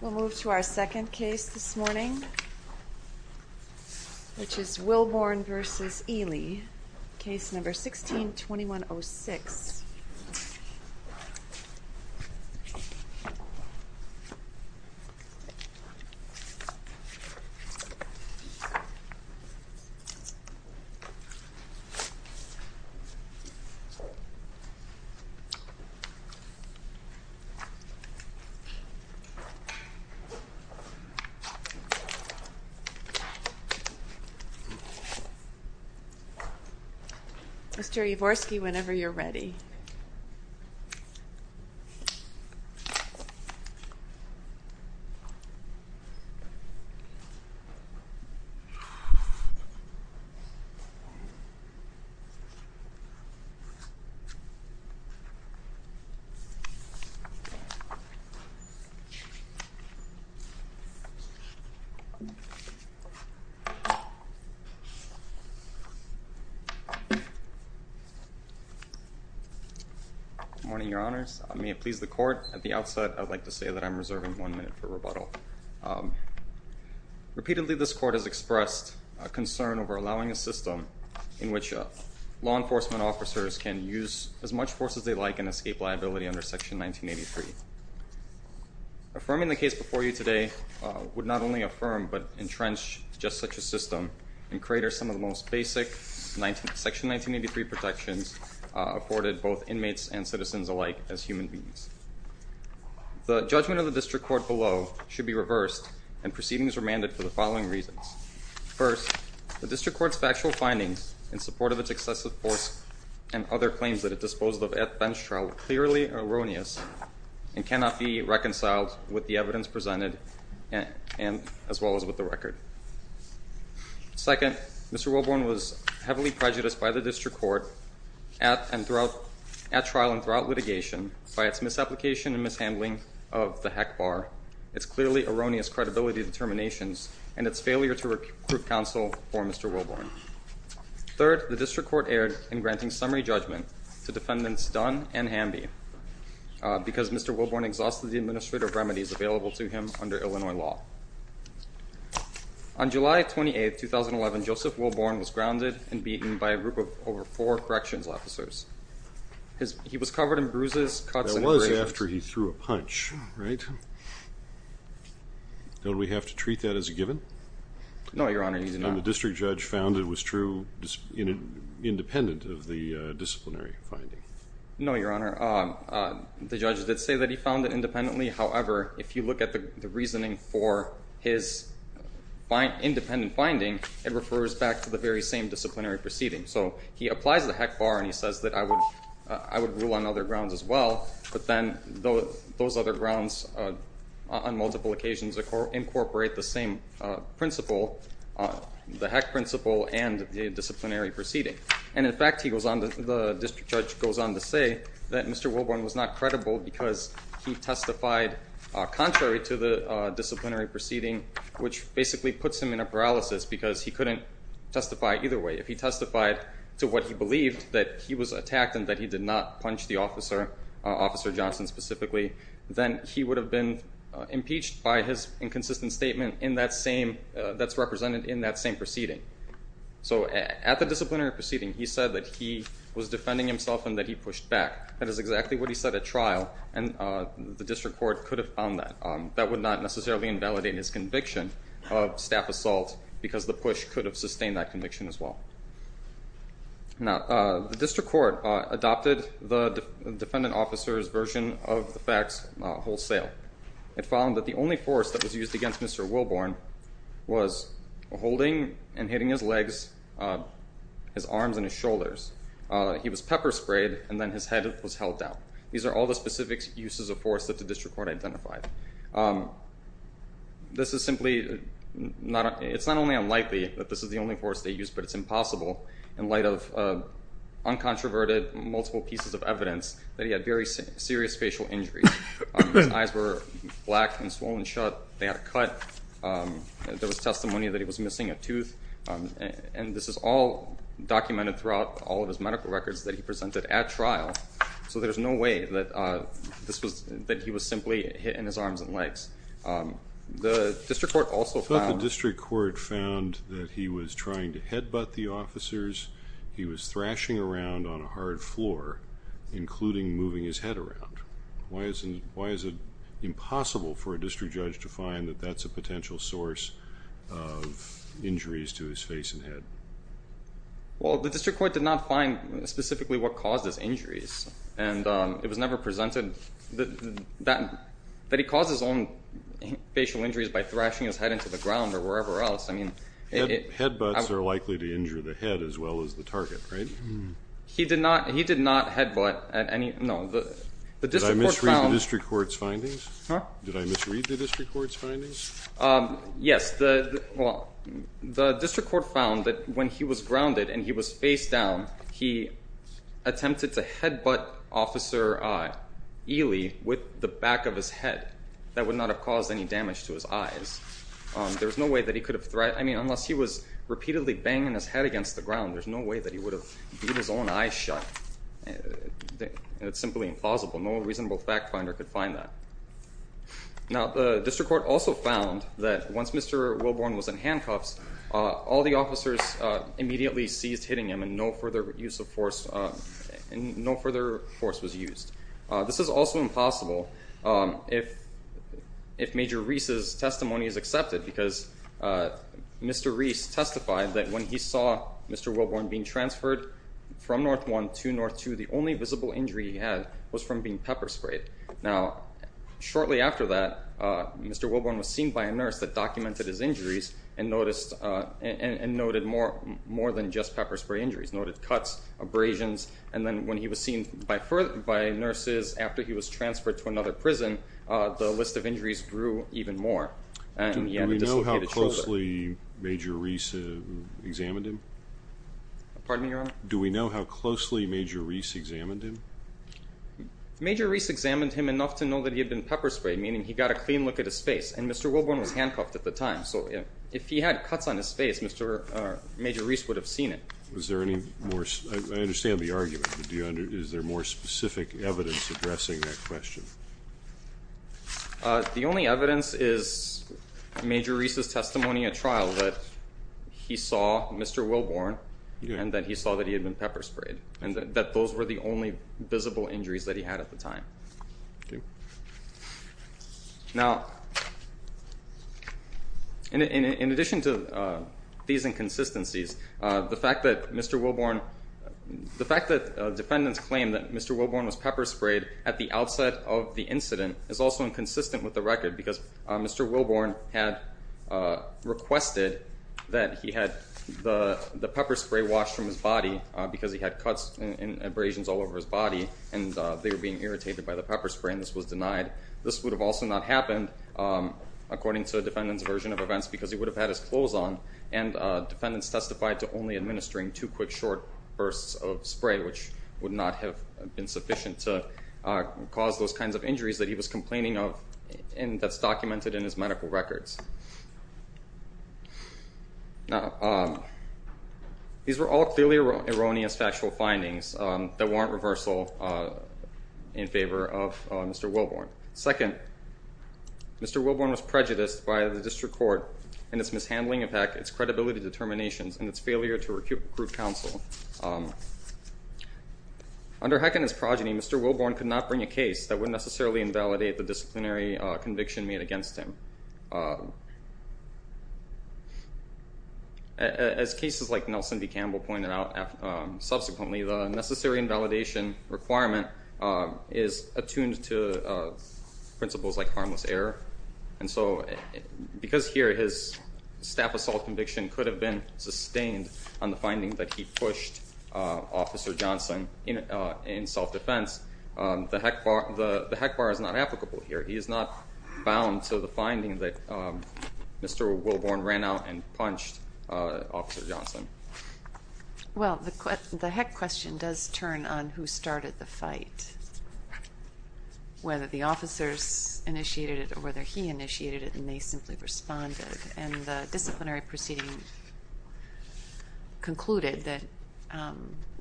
We'll move to our second case this morning, which is Wilborn v. Ealey, Case No. 16-2106. Mr. Yavorsky, whenever you're ready. Okay. Good morning, Your Honors. May it please the Court, at the outset, I'd like to say that I'm reserving one minute for rebuttal. Repeatedly, this Court has expressed a concern over allowing a system in which law enforcement officers can use as much force as they like and escape liability under Section 1983. Affirming the case before you today would not only affirm but entrench just such a system and crater some of the most basic Section 1983 protections afforded both inmates and citizens alike as human beings. The judgment of the District Court below should be reversed and proceedings remanded for the following reasons. First, the District Court's factual findings in support of its excessive force and other claims that it disposed of at bench trial are clearly erroneous and cannot be reconciled with the evidence presented as well as with the record. Second, Mr. Wilborn was heavily prejudiced by the District Court at trial and throughout litigation by its misapplication and mishandling of the Heck Bar, its clearly erroneous credibility determinations, and its failure to recruit counsel for Mr. Wilborn. Third, the District Court erred in granting summary judgment to defendants Dunn and Hamby because Mr. Wilborn exhausted the administrative remedies available to him under Illinois law. On July 28, 2011, Joseph Wilborn was grounded and beaten by a group of over four corrections officers. He was covered in bruises, cuts, and abrasions. That was after he threw a punch, right? Don't we have to treat that as a given? No, Your Honor, you do not. And the district judge found it was true independent of the disciplinary finding? No, Your Honor, the judge did say that he found it independently, however, if you look at the reasoning for his independent finding, it refers back to the very same disciplinary proceeding. So he applies the Heck Bar and he says that I would rule on other grounds as well, but then those other grounds on multiple occasions incorporate the same principle, the Heck Principle, and the disciplinary proceeding. And in fact, he goes on, the district judge goes on to say that Mr. Wilborn was not credible because he testified contrary to the disciplinary proceeding, which basically puts him in a paralysis because he couldn't testify either way. If he testified to what he believed, that he was attacked and that he did not punch the officer, Officer Johnson specifically, then he would have been impeached by his inconsistent statement that's represented in that same proceeding. So at the disciplinary proceeding, he said that he was defending himself and that he pushed back. That is exactly what he said at trial and the district court could have found that. That would not necessarily invalidate his conviction of staff assault because the push could have sustained that conviction as well. Now the district court adopted the defendant officer's version of the facts wholesale. It found that the only force that was used against Mr. Wilborn was holding and hitting his legs, his arms and his shoulders. He was pepper sprayed and then his head was held down. These are all the specific uses of force that the district court identified. This is simply, it's not only unlikely that this is the only force they used, but it's impossible in light of uncontroverted multiple pieces of evidence that he had very serious facial injuries. His eyes were black and swollen shut. They had a cut. There was testimony that he was missing a tooth and this is all documented throughout all of his medical records that he presented at trial. So there's no way that this was, that he was simply hit in his arms and legs. The district court also found... I thought the district court found that he was trying to headbutt the officers. He was thrashing around on a hard floor, including moving his head around. Why is it impossible for a district judge to find that that's a potential source of injuries to his face and head? Well, the district court did not find specifically what caused his injuries and it was never presented that he caused his own facial injuries by thrashing his head into the ground or wherever else. I mean... Headbutts are likely to injure the head as well as the target, right? He did not headbutt at any... No. The district court found... Did I misread the district court's findings? Huh? Did I misread the district court's findings? Yes. Yes. The district court found that when he was grounded and he was face down, he attempted to headbutt Officer Ely with the back of his head. That would not have caused any damage to his eyes. There's no way that he could have... I mean, unless he was repeatedly banging his head against the ground, there's no way that he would have keep his own eyes shut. It's simply implausible. No reasonable fact finder could find that. Now, the district court also found that once Mr. Wilborn was in handcuffs, all the officers immediately seized hitting him and no further use of force... No further force was used. This is also impossible if Major Reese's testimony is accepted because Mr. Reese testified that when he saw Mr. Wilborn being transferred from North 1 to North 2, the only visible injury he had was from being pepper sprayed. Now, shortly after that, Mr. Wilborn was seen by a nurse that documented his injuries and noted more than just pepper spray injuries, noted cuts, abrasions, and then when he was seen by nurses after he was transferred to another prison, the list of injuries grew even more. Do we know how closely Major Reese examined him? Pardon me, Your Honor? Do we know how closely Major Reese examined him? Major Reese examined him enough to know that he had been pepper sprayed, meaning he got a clean look at his face, and Mr. Wilborn was handcuffed at the time, so if he had cuts on his face, Major Reese would have seen it. Was there any more... I understand the argument, but is there more specific evidence addressing that question? The only evidence is Major Reese's testimony at trial that he saw Mr. Wilborn and that he saw that he had been pepper sprayed and that those were the only visible injuries that he had at the time. Now, in addition to these inconsistencies, the fact that Mr. Wilborn... The fact that defendants claim that Mr. Wilborn was pepper sprayed at the outset of the incident is also inconsistent with the record because Mr. Wilborn had requested that he had the body because he had cuts and abrasions all over his body, and they were being irritated by the pepper spray, and this was denied. This would have also not happened, according to the defendant's version of events, because he would have had his clothes on, and defendants testified to only administering two quick short bursts of spray, which would not have been sufficient to cause those kinds of injuries that he was complaining of and that's documented in his medical records. Now, these were all clearly erroneous factual findings that warrant reversal in favor of Mr. Wilborn. Second, Mr. Wilborn was prejudiced by the district court in its mishandling of HECC, its credibility determinations, and its failure to recruit counsel. Under HECC and its progeny, Mr. Wilborn could not bring a case that would necessarily invalidate the disciplinary conviction made against him. As cases like Nelson v. Campbell pointed out subsequently, the necessary invalidation requirement is attuned to principles like harmless error, and so because here his staff assault conviction could have been sustained on the finding that he pushed Officer Johnson in self-defense, the HECC bar is not applicable here. He is not bound to the finding that Mr. Wilborn ran out and punched Officer Johnson. Well, the HECC question does turn on who started the fight, whether the officers initiated it or whether he initiated it, and they simply responded, and the disciplinary proceeding concluded that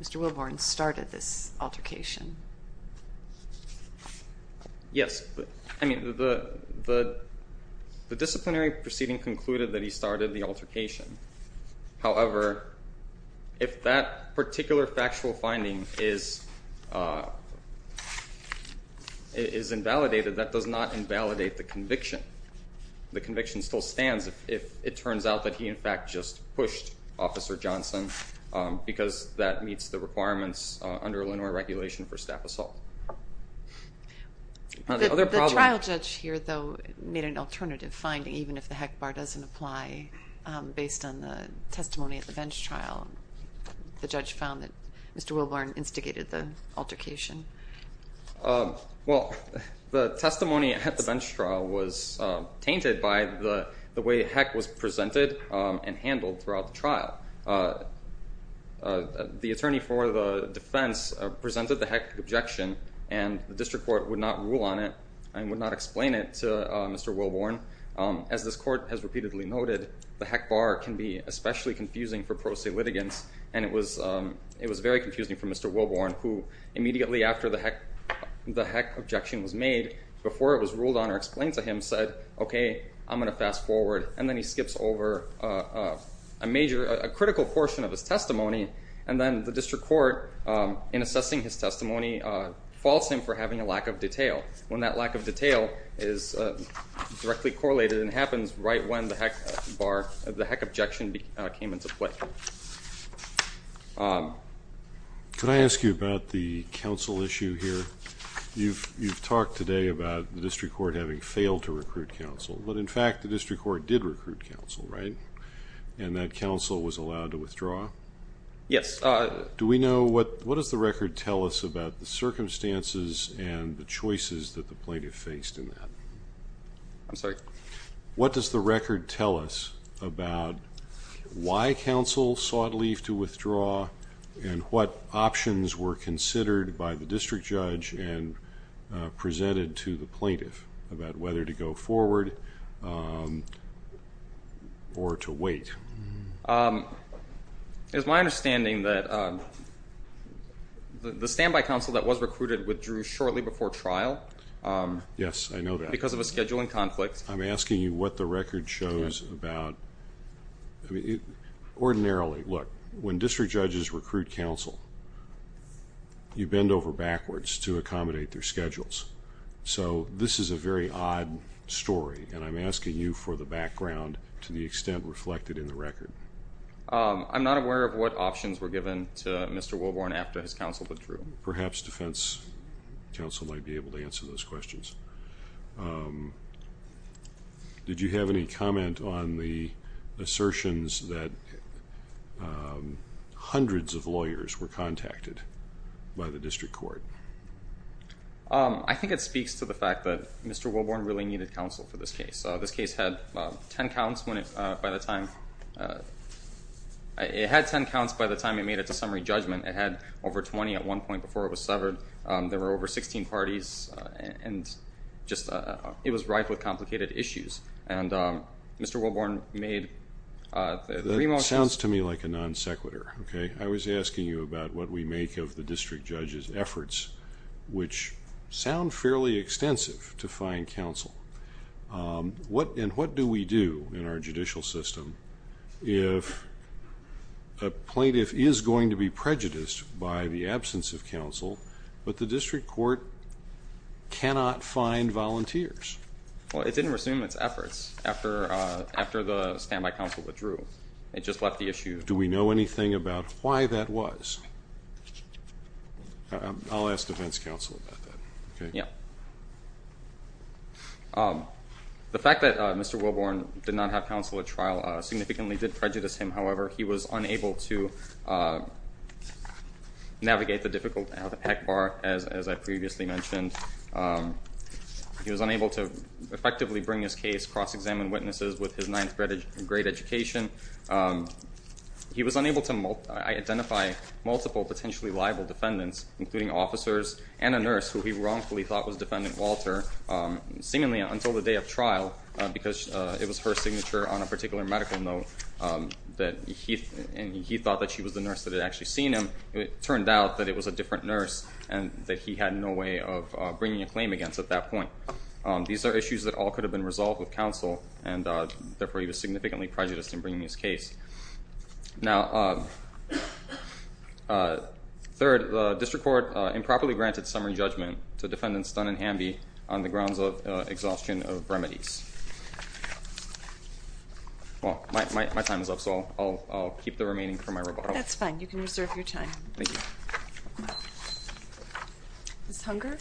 Mr. Wilborn started this altercation. Yes, I mean, the disciplinary proceeding concluded that he started the altercation, however, if that particular factual finding is invalidated, that does not invalidate the conviction. The conviction still stands if it turns out that he, in fact, just pushed Officer Johnson because that meets the requirements under Illinois regulation for staff assault. The trial judge here, though, made an alternative finding even if the HECC bar doesn't apply based on the testimony at the bench trial. The judge found that Mr. Wilborn instigated the altercation. Well, the testimony at the bench trial was tainted by the way HECC was presented and handled throughout the trial. The attorney for the defense presented the HECC objection, and the district court would not rule on it and would not explain it to Mr. Wilborn. As this court has repeatedly noted, the HECC bar can be especially confusing for pro se after the HECC objection was made, before it was ruled on or explained to him, said, okay, I'm going to fast forward, and then he skips over a major, a critical portion of his testimony, and then the district court, in assessing his testimony, faults him for having a lack of detail, when that lack of detail is directly correlated and happens right when the HECC objection came into play. Could I ask you about the counsel issue here? You've talked today about the district court having failed to recruit counsel, but in fact the district court did recruit counsel, right? And that counsel was allowed to withdraw? Yes. Do we know, what does the record tell us about the circumstances and the choices that the plaintiff faced in that? I'm sorry? What does the record tell us about why counsel sought leave to withdraw and what options were considered by the district judge and presented to the plaintiff about whether to go forward or to wait? It's my understanding that the standby counsel that was recruited withdrew shortly before trial. Yes, I know that. Because of a scheduling conflict. I'm asking you what the record shows about... ordinarily, look, when district judges recruit counsel, you bend over backwards to accommodate their schedules. So this is a very odd story, and I'm asking you for the background to the extent reflected in the record. I'm not aware of what options were given to Mr. Wilborn after his counsel withdrew. Perhaps defense counsel might be able to answer those questions. Did you have any comment on the assertions that hundreds of lawyers were contacted by the district court? I think it speaks to the fact that Mr. Wilborn really needed counsel for this case. This case had 10 counts when it... by the time... it had 10 counts by the time it made its summary judgment. It had over 20 at one point before it was severed. There were over 16 parties, and just... it was rife with complicated issues. And Mr. Wilborn made the remotions... That sounds to me like a non-sequitur. Okay? I was asking you about what we make of the district judge's efforts, which sound fairly extensive to find counsel. And what do we do in our judicial system if a plaintiff is going to be prejudiced by the absence of counsel, but the district court cannot find volunteers? Well, it didn't resume its efforts after the standby counsel withdrew. It just left the issue... Do we know anything about why that was? I'll ask defense counsel about that. Okay? Yeah. The fact that Mr. Wilborn did not have counsel at trial significantly did prejudice him. However, he was unable to navigate the difficult... the peck bar, as I previously mentioned. He was unable to effectively bring his case, cross-examine witnesses with his ninth grade education. He was unable to identify multiple potentially liable defendants, including officers and a nurse who he wrongfully thought was Defendant Walter, seemingly until the day of trial because it was her signature on a particular medical note that he... and he thought that she was the nurse that had actually seen him. It turned out that it was a different nurse and that he had no way of bringing a claim against at that point. These are issues that all could have been resolved with counsel, and therefore, he was able to bring his case. Now, third, the district court improperly granted summary judgment to Defendants Dunn and Hamby on the grounds of exhaustion of remedies. Well, my time is up, so I'll keep the remaining for my rebuttal. That's fine. You can reserve your time. Thank you. Ms. Hunger?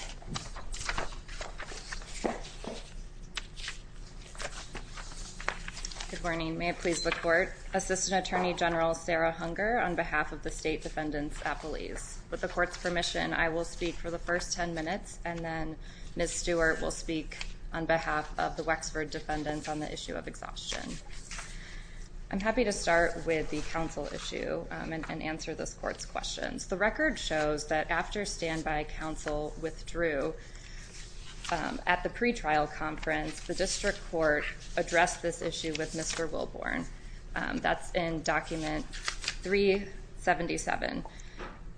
Good morning. May it please the court. Assistant Attorney General Sarah Hunger on behalf of the state defendants at police. With the court's permission, I will speak for the first ten minutes, and then Ms. Stewart will speak on behalf of the Wexford defendants on the issue of exhaustion. I'm happy to start with the counsel issue and answer this court's questions. The record shows that after standby counsel withdrew, at the pretrial conference, the That's in Document 377.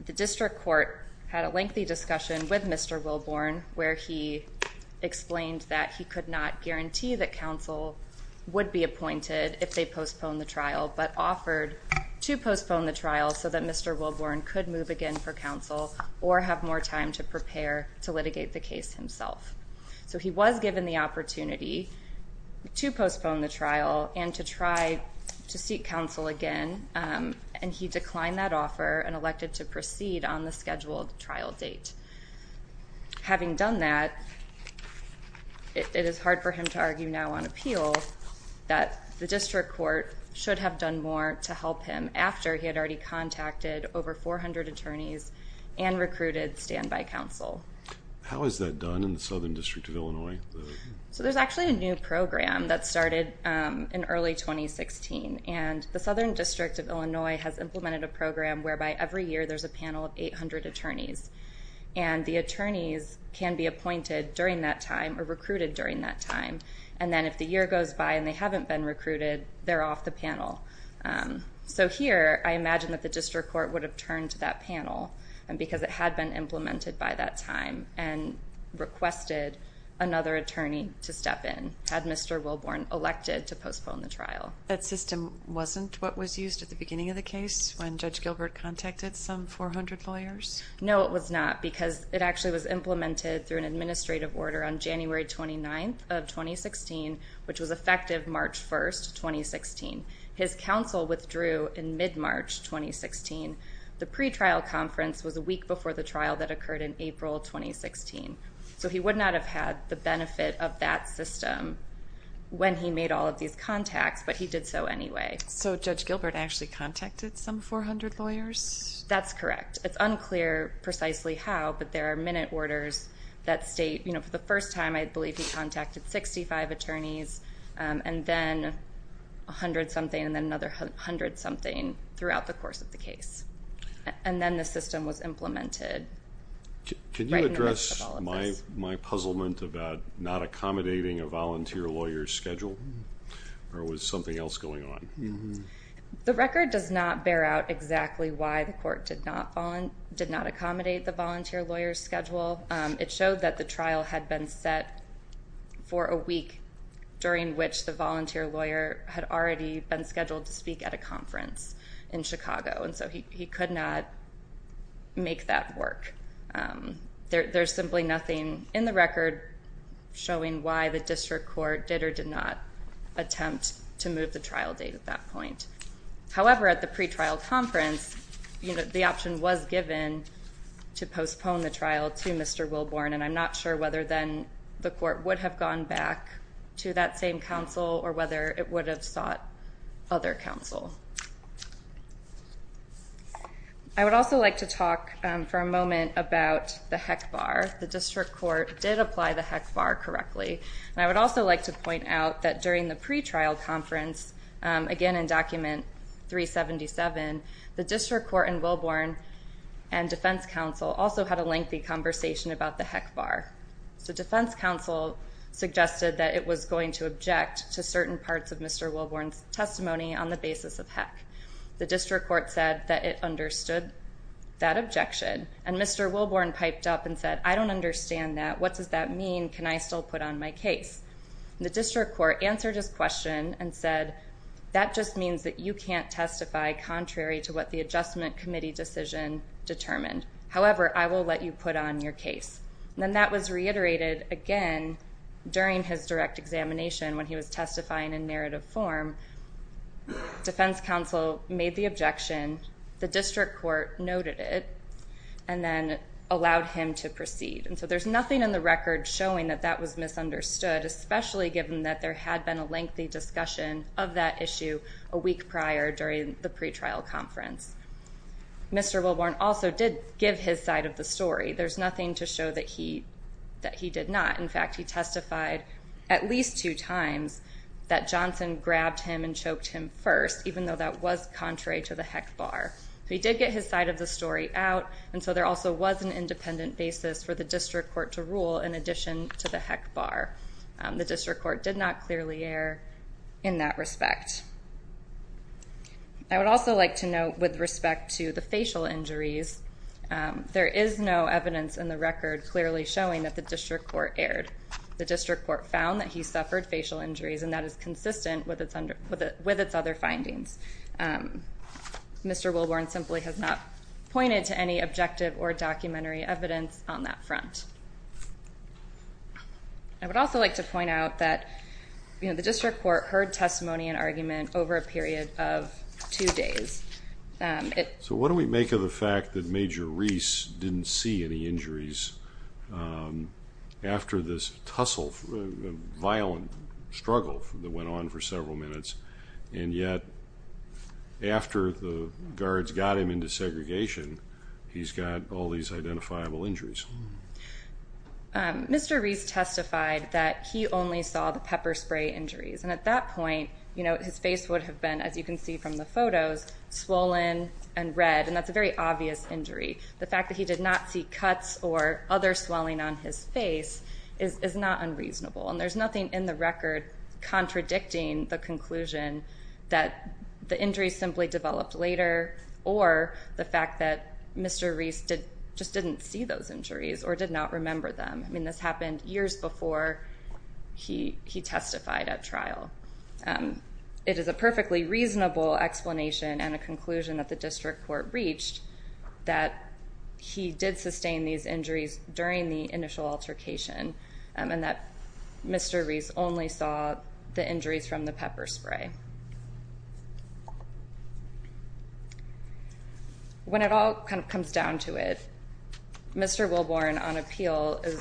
The district court had a lengthy discussion with Mr. Wilborn, where he explained that he could not guarantee that counsel would be appointed if they postponed the trial, but offered to postpone the trial so that Mr. Wilborn could move again for counsel or have more time to prepare to litigate the case himself. So he was given the opportunity to postpone the trial and to try to seek counsel again, and he declined that offer and elected to proceed on the scheduled trial date. Having done that, it is hard for him to argue now on appeal that the district court should have done more to help him after he had already contacted over 400 attorneys and recruited standby counsel. How is that done in the Southern District of Illinois? So there's actually a new program that started in early 2016, and the Southern District of Illinois has implemented a program whereby every year there's a panel of 800 attorneys, and the attorneys can be appointed during that time or recruited during that time, and then if the year goes by and they haven't been recruited, they're off the panel. So here, I imagine that the district court would have turned to that panel, and because it had been implemented by that time and requested another attorney to step in had Mr. Wilborn elected to postpone the trial. That system wasn't what was used at the beginning of the case when Judge Gilbert contacted some 400 lawyers? No, it was not because it actually was implemented through an administrative order on January 29th of 2016, which was effective March 1st, 2016. His counsel withdrew in mid-March 2016. The pretrial conference was a week before the trial that occurred in April 2016. So he would not have had the benefit of that system when he made all of these contacts, but he did so anyway. So Judge Gilbert actually contacted some 400 lawyers? That's correct. It's unclear precisely how, but there are minute orders that state, you know, for the first time I believe he contacted 65 attorneys and then 100-something and then another 100-something throughout the course of the case. And then the system was implemented right in the midst of all of this. Can you address my puzzlement about not accommodating a volunteer lawyer's schedule? Or was something else going on? The record does not bear out exactly why the court did not accommodate the volunteer lawyer's schedule. It showed that the trial had been set for a week during which the volunteer lawyer had already been scheduled to speak at a conference in Chicago, and so he could not make that work. There's simply nothing in the record showing why the district court did or did not attempt to move the trial date at that point. However, at the pretrial conference, you know, the option was given to postpone the trial to Mr. Wilborn, and I'm not sure whether then the court would have gone back to that same counsel or whether it would have sought other counsel. I would also like to talk for a moment about the HEC bar. The district court did apply the HEC bar correctly, and I would also like to point out that during the pretrial conference, again in Document 377, the district court and Wilborn and defense counsel also had a lengthy conversation about the HEC bar. The defense counsel suggested that it was going to object to certain parts of Mr. Wilborn's testimony on the basis of HEC. The district court said that it understood that objection, and Mr. Wilborn piped up and said, I don't understand that. What does that mean? Can I still put on my case? The district court answered his question and said, that just means that you can't testify contrary to what the adjustment committee decision determined. However, I will let you put on your case. Then that was reiterated again during his direct examination when he was testifying in narrative form. Defense counsel made the objection. The district court noted it and then allowed him to proceed. And so there's nothing in the record showing that that was misunderstood, especially given that there had been a lengthy discussion of that issue a week prior during the pretrial conference. Mr. Wilborn also did give his side of the story. There's nothing to show that he did not. In fact, he testified at least two times that Johnson grabbed him and choked him first, even though that was contrary to the HEC bar. He did get his side of the story out, and so there also was an independent basis for the district court to rule in addition to the HEC bar. The district court did not clearly err in that respect. I would also like to note with respect to the facial injuries, there is no evidence in the record clearly showing that the district court erred. The district court found that he suffered facial injuries, and that is consistent with its other findings. Mr. Wilborn simply has not pointed to any objective or documentary evidence on that front. I would also like to point out that the district court heard testimony and argument over a period of two days. So what do we make of the fact that Major Reese didn't see any injuries after this tussle, violent struggle that went on for several minutes, and yet after the guards got him into segregation, he's got all these identifiable injuries? Mr. Reese testified that he only saw the pepper spray injuries, and at that point, his face would have been, as you can see from the photos, swollen and red, and that's a very obvious injury. The fact that he did not see cuts or other swelling on his face is not unreasonable, and there's nothing in the record contradicting the conclusion that the injuries simply developed later or the fact that Mr. Reese just didn't see those injuries or did not remember them. I mean, this happened years before he testified at trial. It is a perfectly reasonable explanation and a conclusion that the district court reached that he did sustain these injuries during the initial altercation and that Mr. Reese only saw the injuries from the pepper spray. When it all comes down to it, Mr. Wilborn on appeal is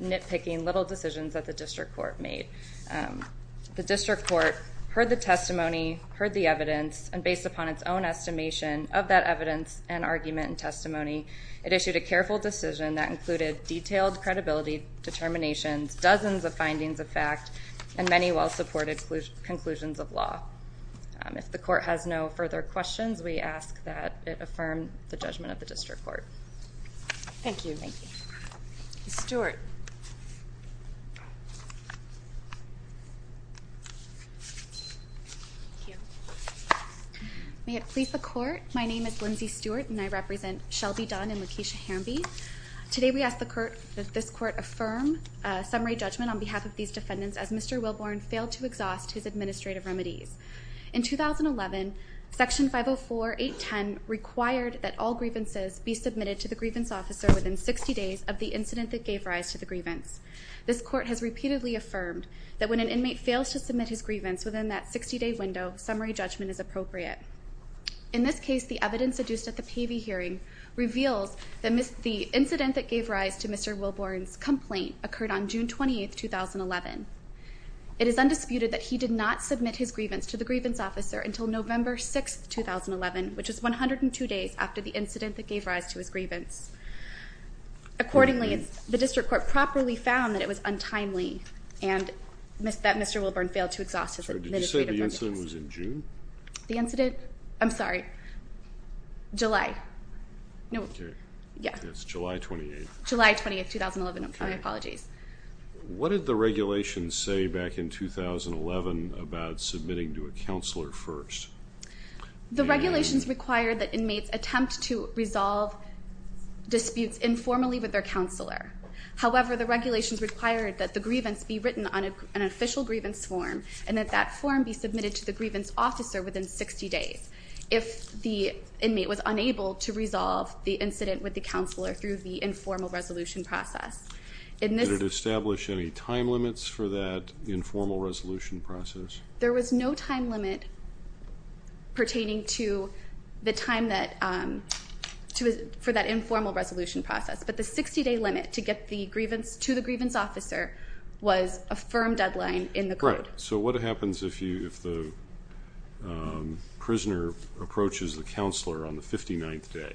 nitpicking little decisions that the district court made. The district court heard the testimony, heard the evidence, and based upon its own estimation of that evidence and argument and testimony, it issued a careful decision that included detailed credibility determinations, dozens of findings of fact, and many well-supported conclusions of law. If the court has no further questions, we ask that it affirm the judgment of the district court. Thank you. Ms. Stewart. May it please the court, my name is Lindsay Stewart, and I represent Shelby Dunn and Lakeisha Harambee. Today we ask that this court affirm a summary judgment on behalf of these defendants as Mr. Wilborn failed to exhaust his administrative remedies. In 2011, Section 504.810 required that all grievances be submitted to the grievance officer within 60 days of the incident that gave rise to the grievance. This court has repeatedly affirmed that when an inmate fails to submit his grievance within that 60-day window, summary judgment is appropriate. In this case, the evidence adduced at the Pavey hearing reveals that the incident that gave rise to Mr. Wilborn's complaint occurred on June 28, 2011. It is undisputed that he did not submit his grievance to the grievance officer until November 6, 2011, which is 102 days after the incident that gave rise to his grievance. Accordingly, the district court properly found that it was untimely and that Mr. Wilborn failed to exhaust his administrative remedies. Did you say the incident was in June? The incident? I'm sorry. July. Okay. It's July 28th. July 28th, 2011. My apologies. What did the regulations say back in 2011 about submitting to a counselor first? The regulations required that inmates attempt to resolve disputes informally with their counselor. However, the regulations required that the grievance be written on an official grievance form and that that form be submitted to the grievance officer within 60 days if the inmate was unable to resolve the incident with the counselor through the informal resolution process. Did it establish any time limits for that informal resolution process? There was no time limit pertaining to the time for that informal resolution process, but the 60-day limit to get to the grievance officer was a firm deadline in the court. All right. So what happens if the prisoner approaches the counselor on the 59th day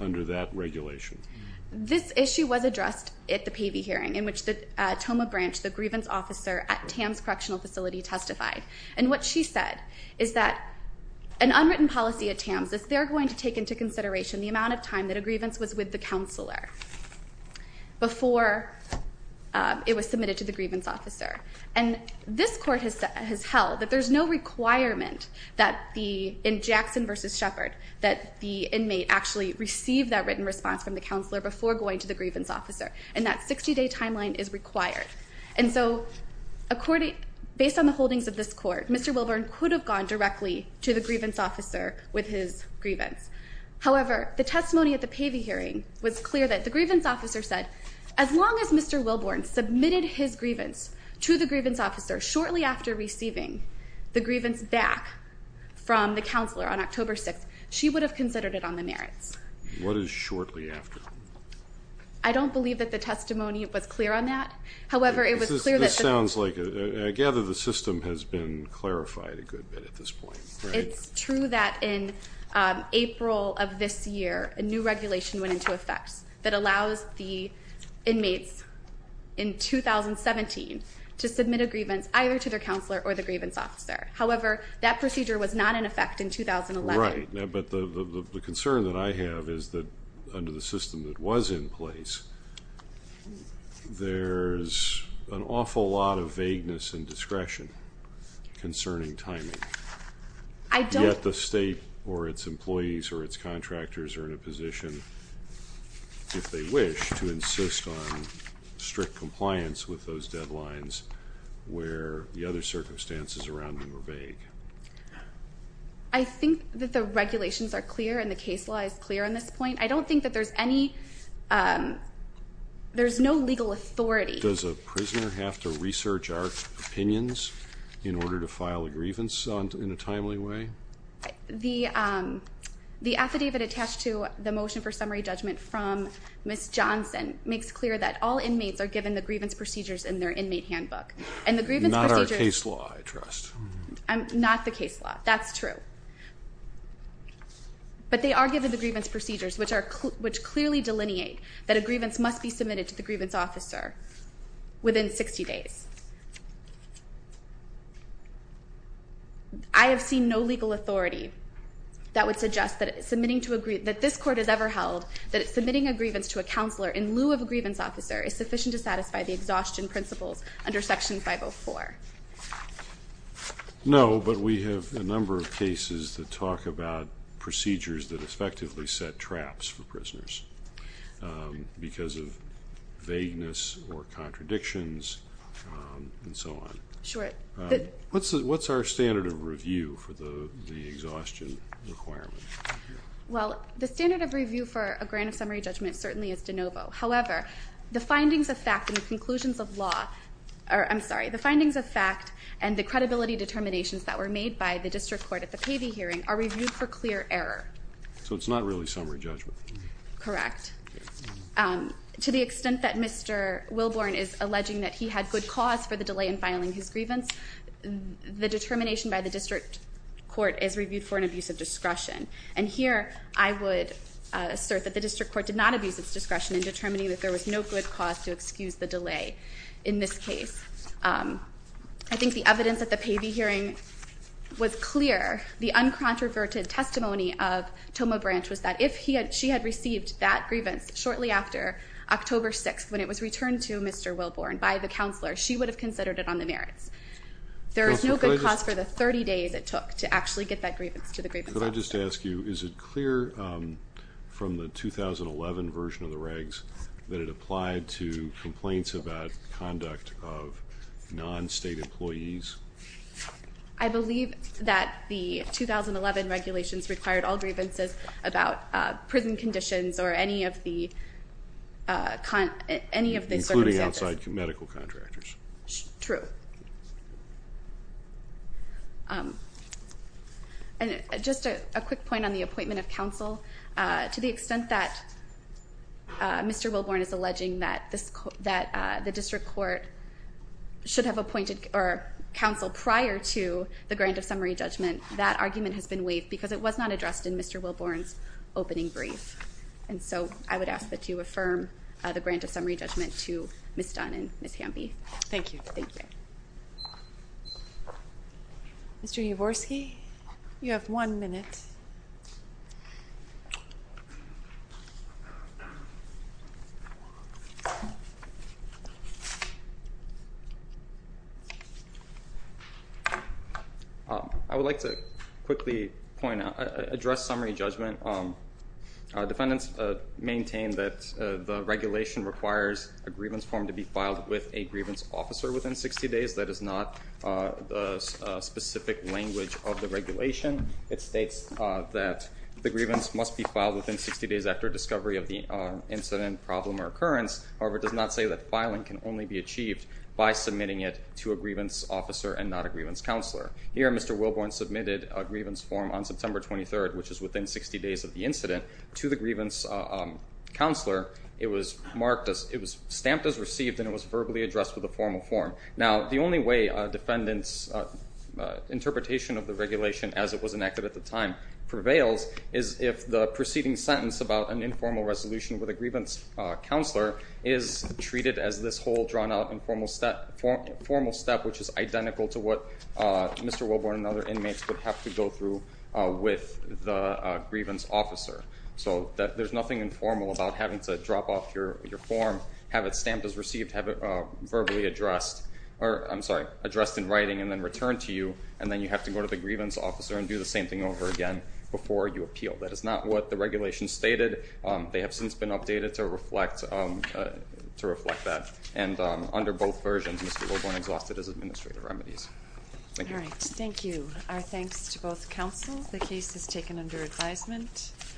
under that regulation? This issue was addressed at the Pavey hearing in which the Tomah branch, the grievance officer at TAMS Correctional Facility testified. And what she said is that an unwritten policy at TAMS, if they're going to take into consideration the amount of time that a grievance was with the counselor before it was submitted to the grievance officer. And this court has held that there's no requirement in Jackson v. Shepard that the inmate actually receive that written response from the counselor before going to the grievance officer, and that 60-day timeline is required. And so based on the holdings of this court, Mr. Wilburn could have gone directly to the grievance officer with his grievance. However, the testimony at the Pavey hearing was clear that the grievance officer said, as long as Mr. Wilburn submitted his grievance to the grievance officer shortly after receiving the grievance back from the counselor on October 6th, she would have considered it on the merits. What is shortly after? I don't believe that the testimony was clear on that. However, it was clear that... This sounds like, I gather the system has been clarified a good bit at this point, right? It's true that in April of this year, a new regulation went into effect that allows the inmates in 2017 to submit a grievance either to their counselor or the grievance officer. However, that procedure was not in effect in 2011. Right, but the concern that I have is that under the system that was in place, there's an awful lot of vagueness and discretion concerning timing. Yet the state or its employees or its contractors are in a position, if they wish, to insist on strict compliance with those deadlines where the other circumstances around them are vague. I think that the regulations are clear and the case law is clear on this point. I don't think that there's any... there's no legal authority. Does a prisoner have to research our opinions in order to file a grievance in a timely way? The affidavit attached to the motion for summary judgment from Ms. Johnson makes clear that all inmates are given the grievance procedures in their inmate handbook. And the grievance procedures... Not our case law, I trust. Not the case law, that's true. But they are given the grievance procedures which clearly delineate that a grievance must be submitted to the grievance officer within 60 days. I have seen no legal authority that would suggest that submitting to a... that this court has ever held that submitting a grievance to a counselor in lieu of a grievance officer is sufficient to satisfy the exhaustion principles under Section 504. No, but we have a number of cases that talk about procedures that effectively set traps for prisoners because of vagueness or contradictions and so on. Sure. What's our standard of review for the exhaustion requirement? Well, the standard of review for a grant of summary judgment certainly is de novo. However, the findings of fact and the conclusions of law... I'm sorry, the findings of fact and the credibility determinations that were made by the district court at the Pavey hearing are reviewed for clear error. So it's not really summary judgment? Correct. To the extent that Mr. Wilborn is alleging that he had good cause for the delay in filing his grievance, the determination by the district court is reviewed for an abuse of discretion. And here I would assert that the district court did not abuse its discretion in determining that there was no good cause to excuse the delay in this case. I think the evidence at the Pavey hearing was clear. The uncontroverted testimony of Toma Branch was that if she had received that grievance shortly after October 6th when it was returned to Mr. Wilborn by the counselor, she would have considered it on the merits. There is no good cause for the 30 days it took to actually get that grievance to the grievance officer. Could I just ask you, is it clear from the 2011 version of the regs that it applied to complaints about conduct of non-state employees? I believe that the 2011 regulations required all grievances about prison conditions or any of the circumstances. Including outside medical contractors. True. And just a quick point on the appointment of counsel. To the extent that Mr. Wilborn is alleging that the district court should have appointed counsel prior to the grant of summary judgment, that argument has been waived because it was not addressed in Mr. Wilborn's opening brief. And so I would ask that you affirm the grant of summary judgment to Ms. Dunn and Ms. Hamby. Thank you. Mr. Yavorsky, you have one minute. I would like to quickly point out, address summary judgment. Defendants maintain that the regulation requires a grievance form to be filed with a grievance officer within 60 days. That is not the specific language of the regulation. It states that the grievance must be filed within 60 days after discovery of the incident, problem, or occurrence. However, it does not say that filing can only be achieved by submitting it to a grievance officer and not a grievance counselor. Here, Mr. Wilborn submitted a grievance form on September 23rd, which is within 60 days of the incident, to the grievance counselor. It was stamped as received, and it was verbally addressed with a formal form. Now, the only way a defendant's interpretation of the regulation as it was enacted at the time prevails is if the preceding sentence about an informal resolution with a grievance counselor is treated as this whole drawn-out informal step, which is identical to what Mr. Wilborn and other inmates would have to go through with the grievance officer. So there's nothing informal about having to drop off your form, have it stamped as received, have it verbally addressed, or I'm sorry, addressed in writing and then returned to you, and then you have to go to the grievance officer and do the same thing over again before you appeal. That is not what the regulation stated. They have since been updated to reflect that. And under both versions, Mr. Wilborn exhausted his administrative remedies. Thank you. All right, thank you. Our thanks to both counsels. The case is taken under advisement.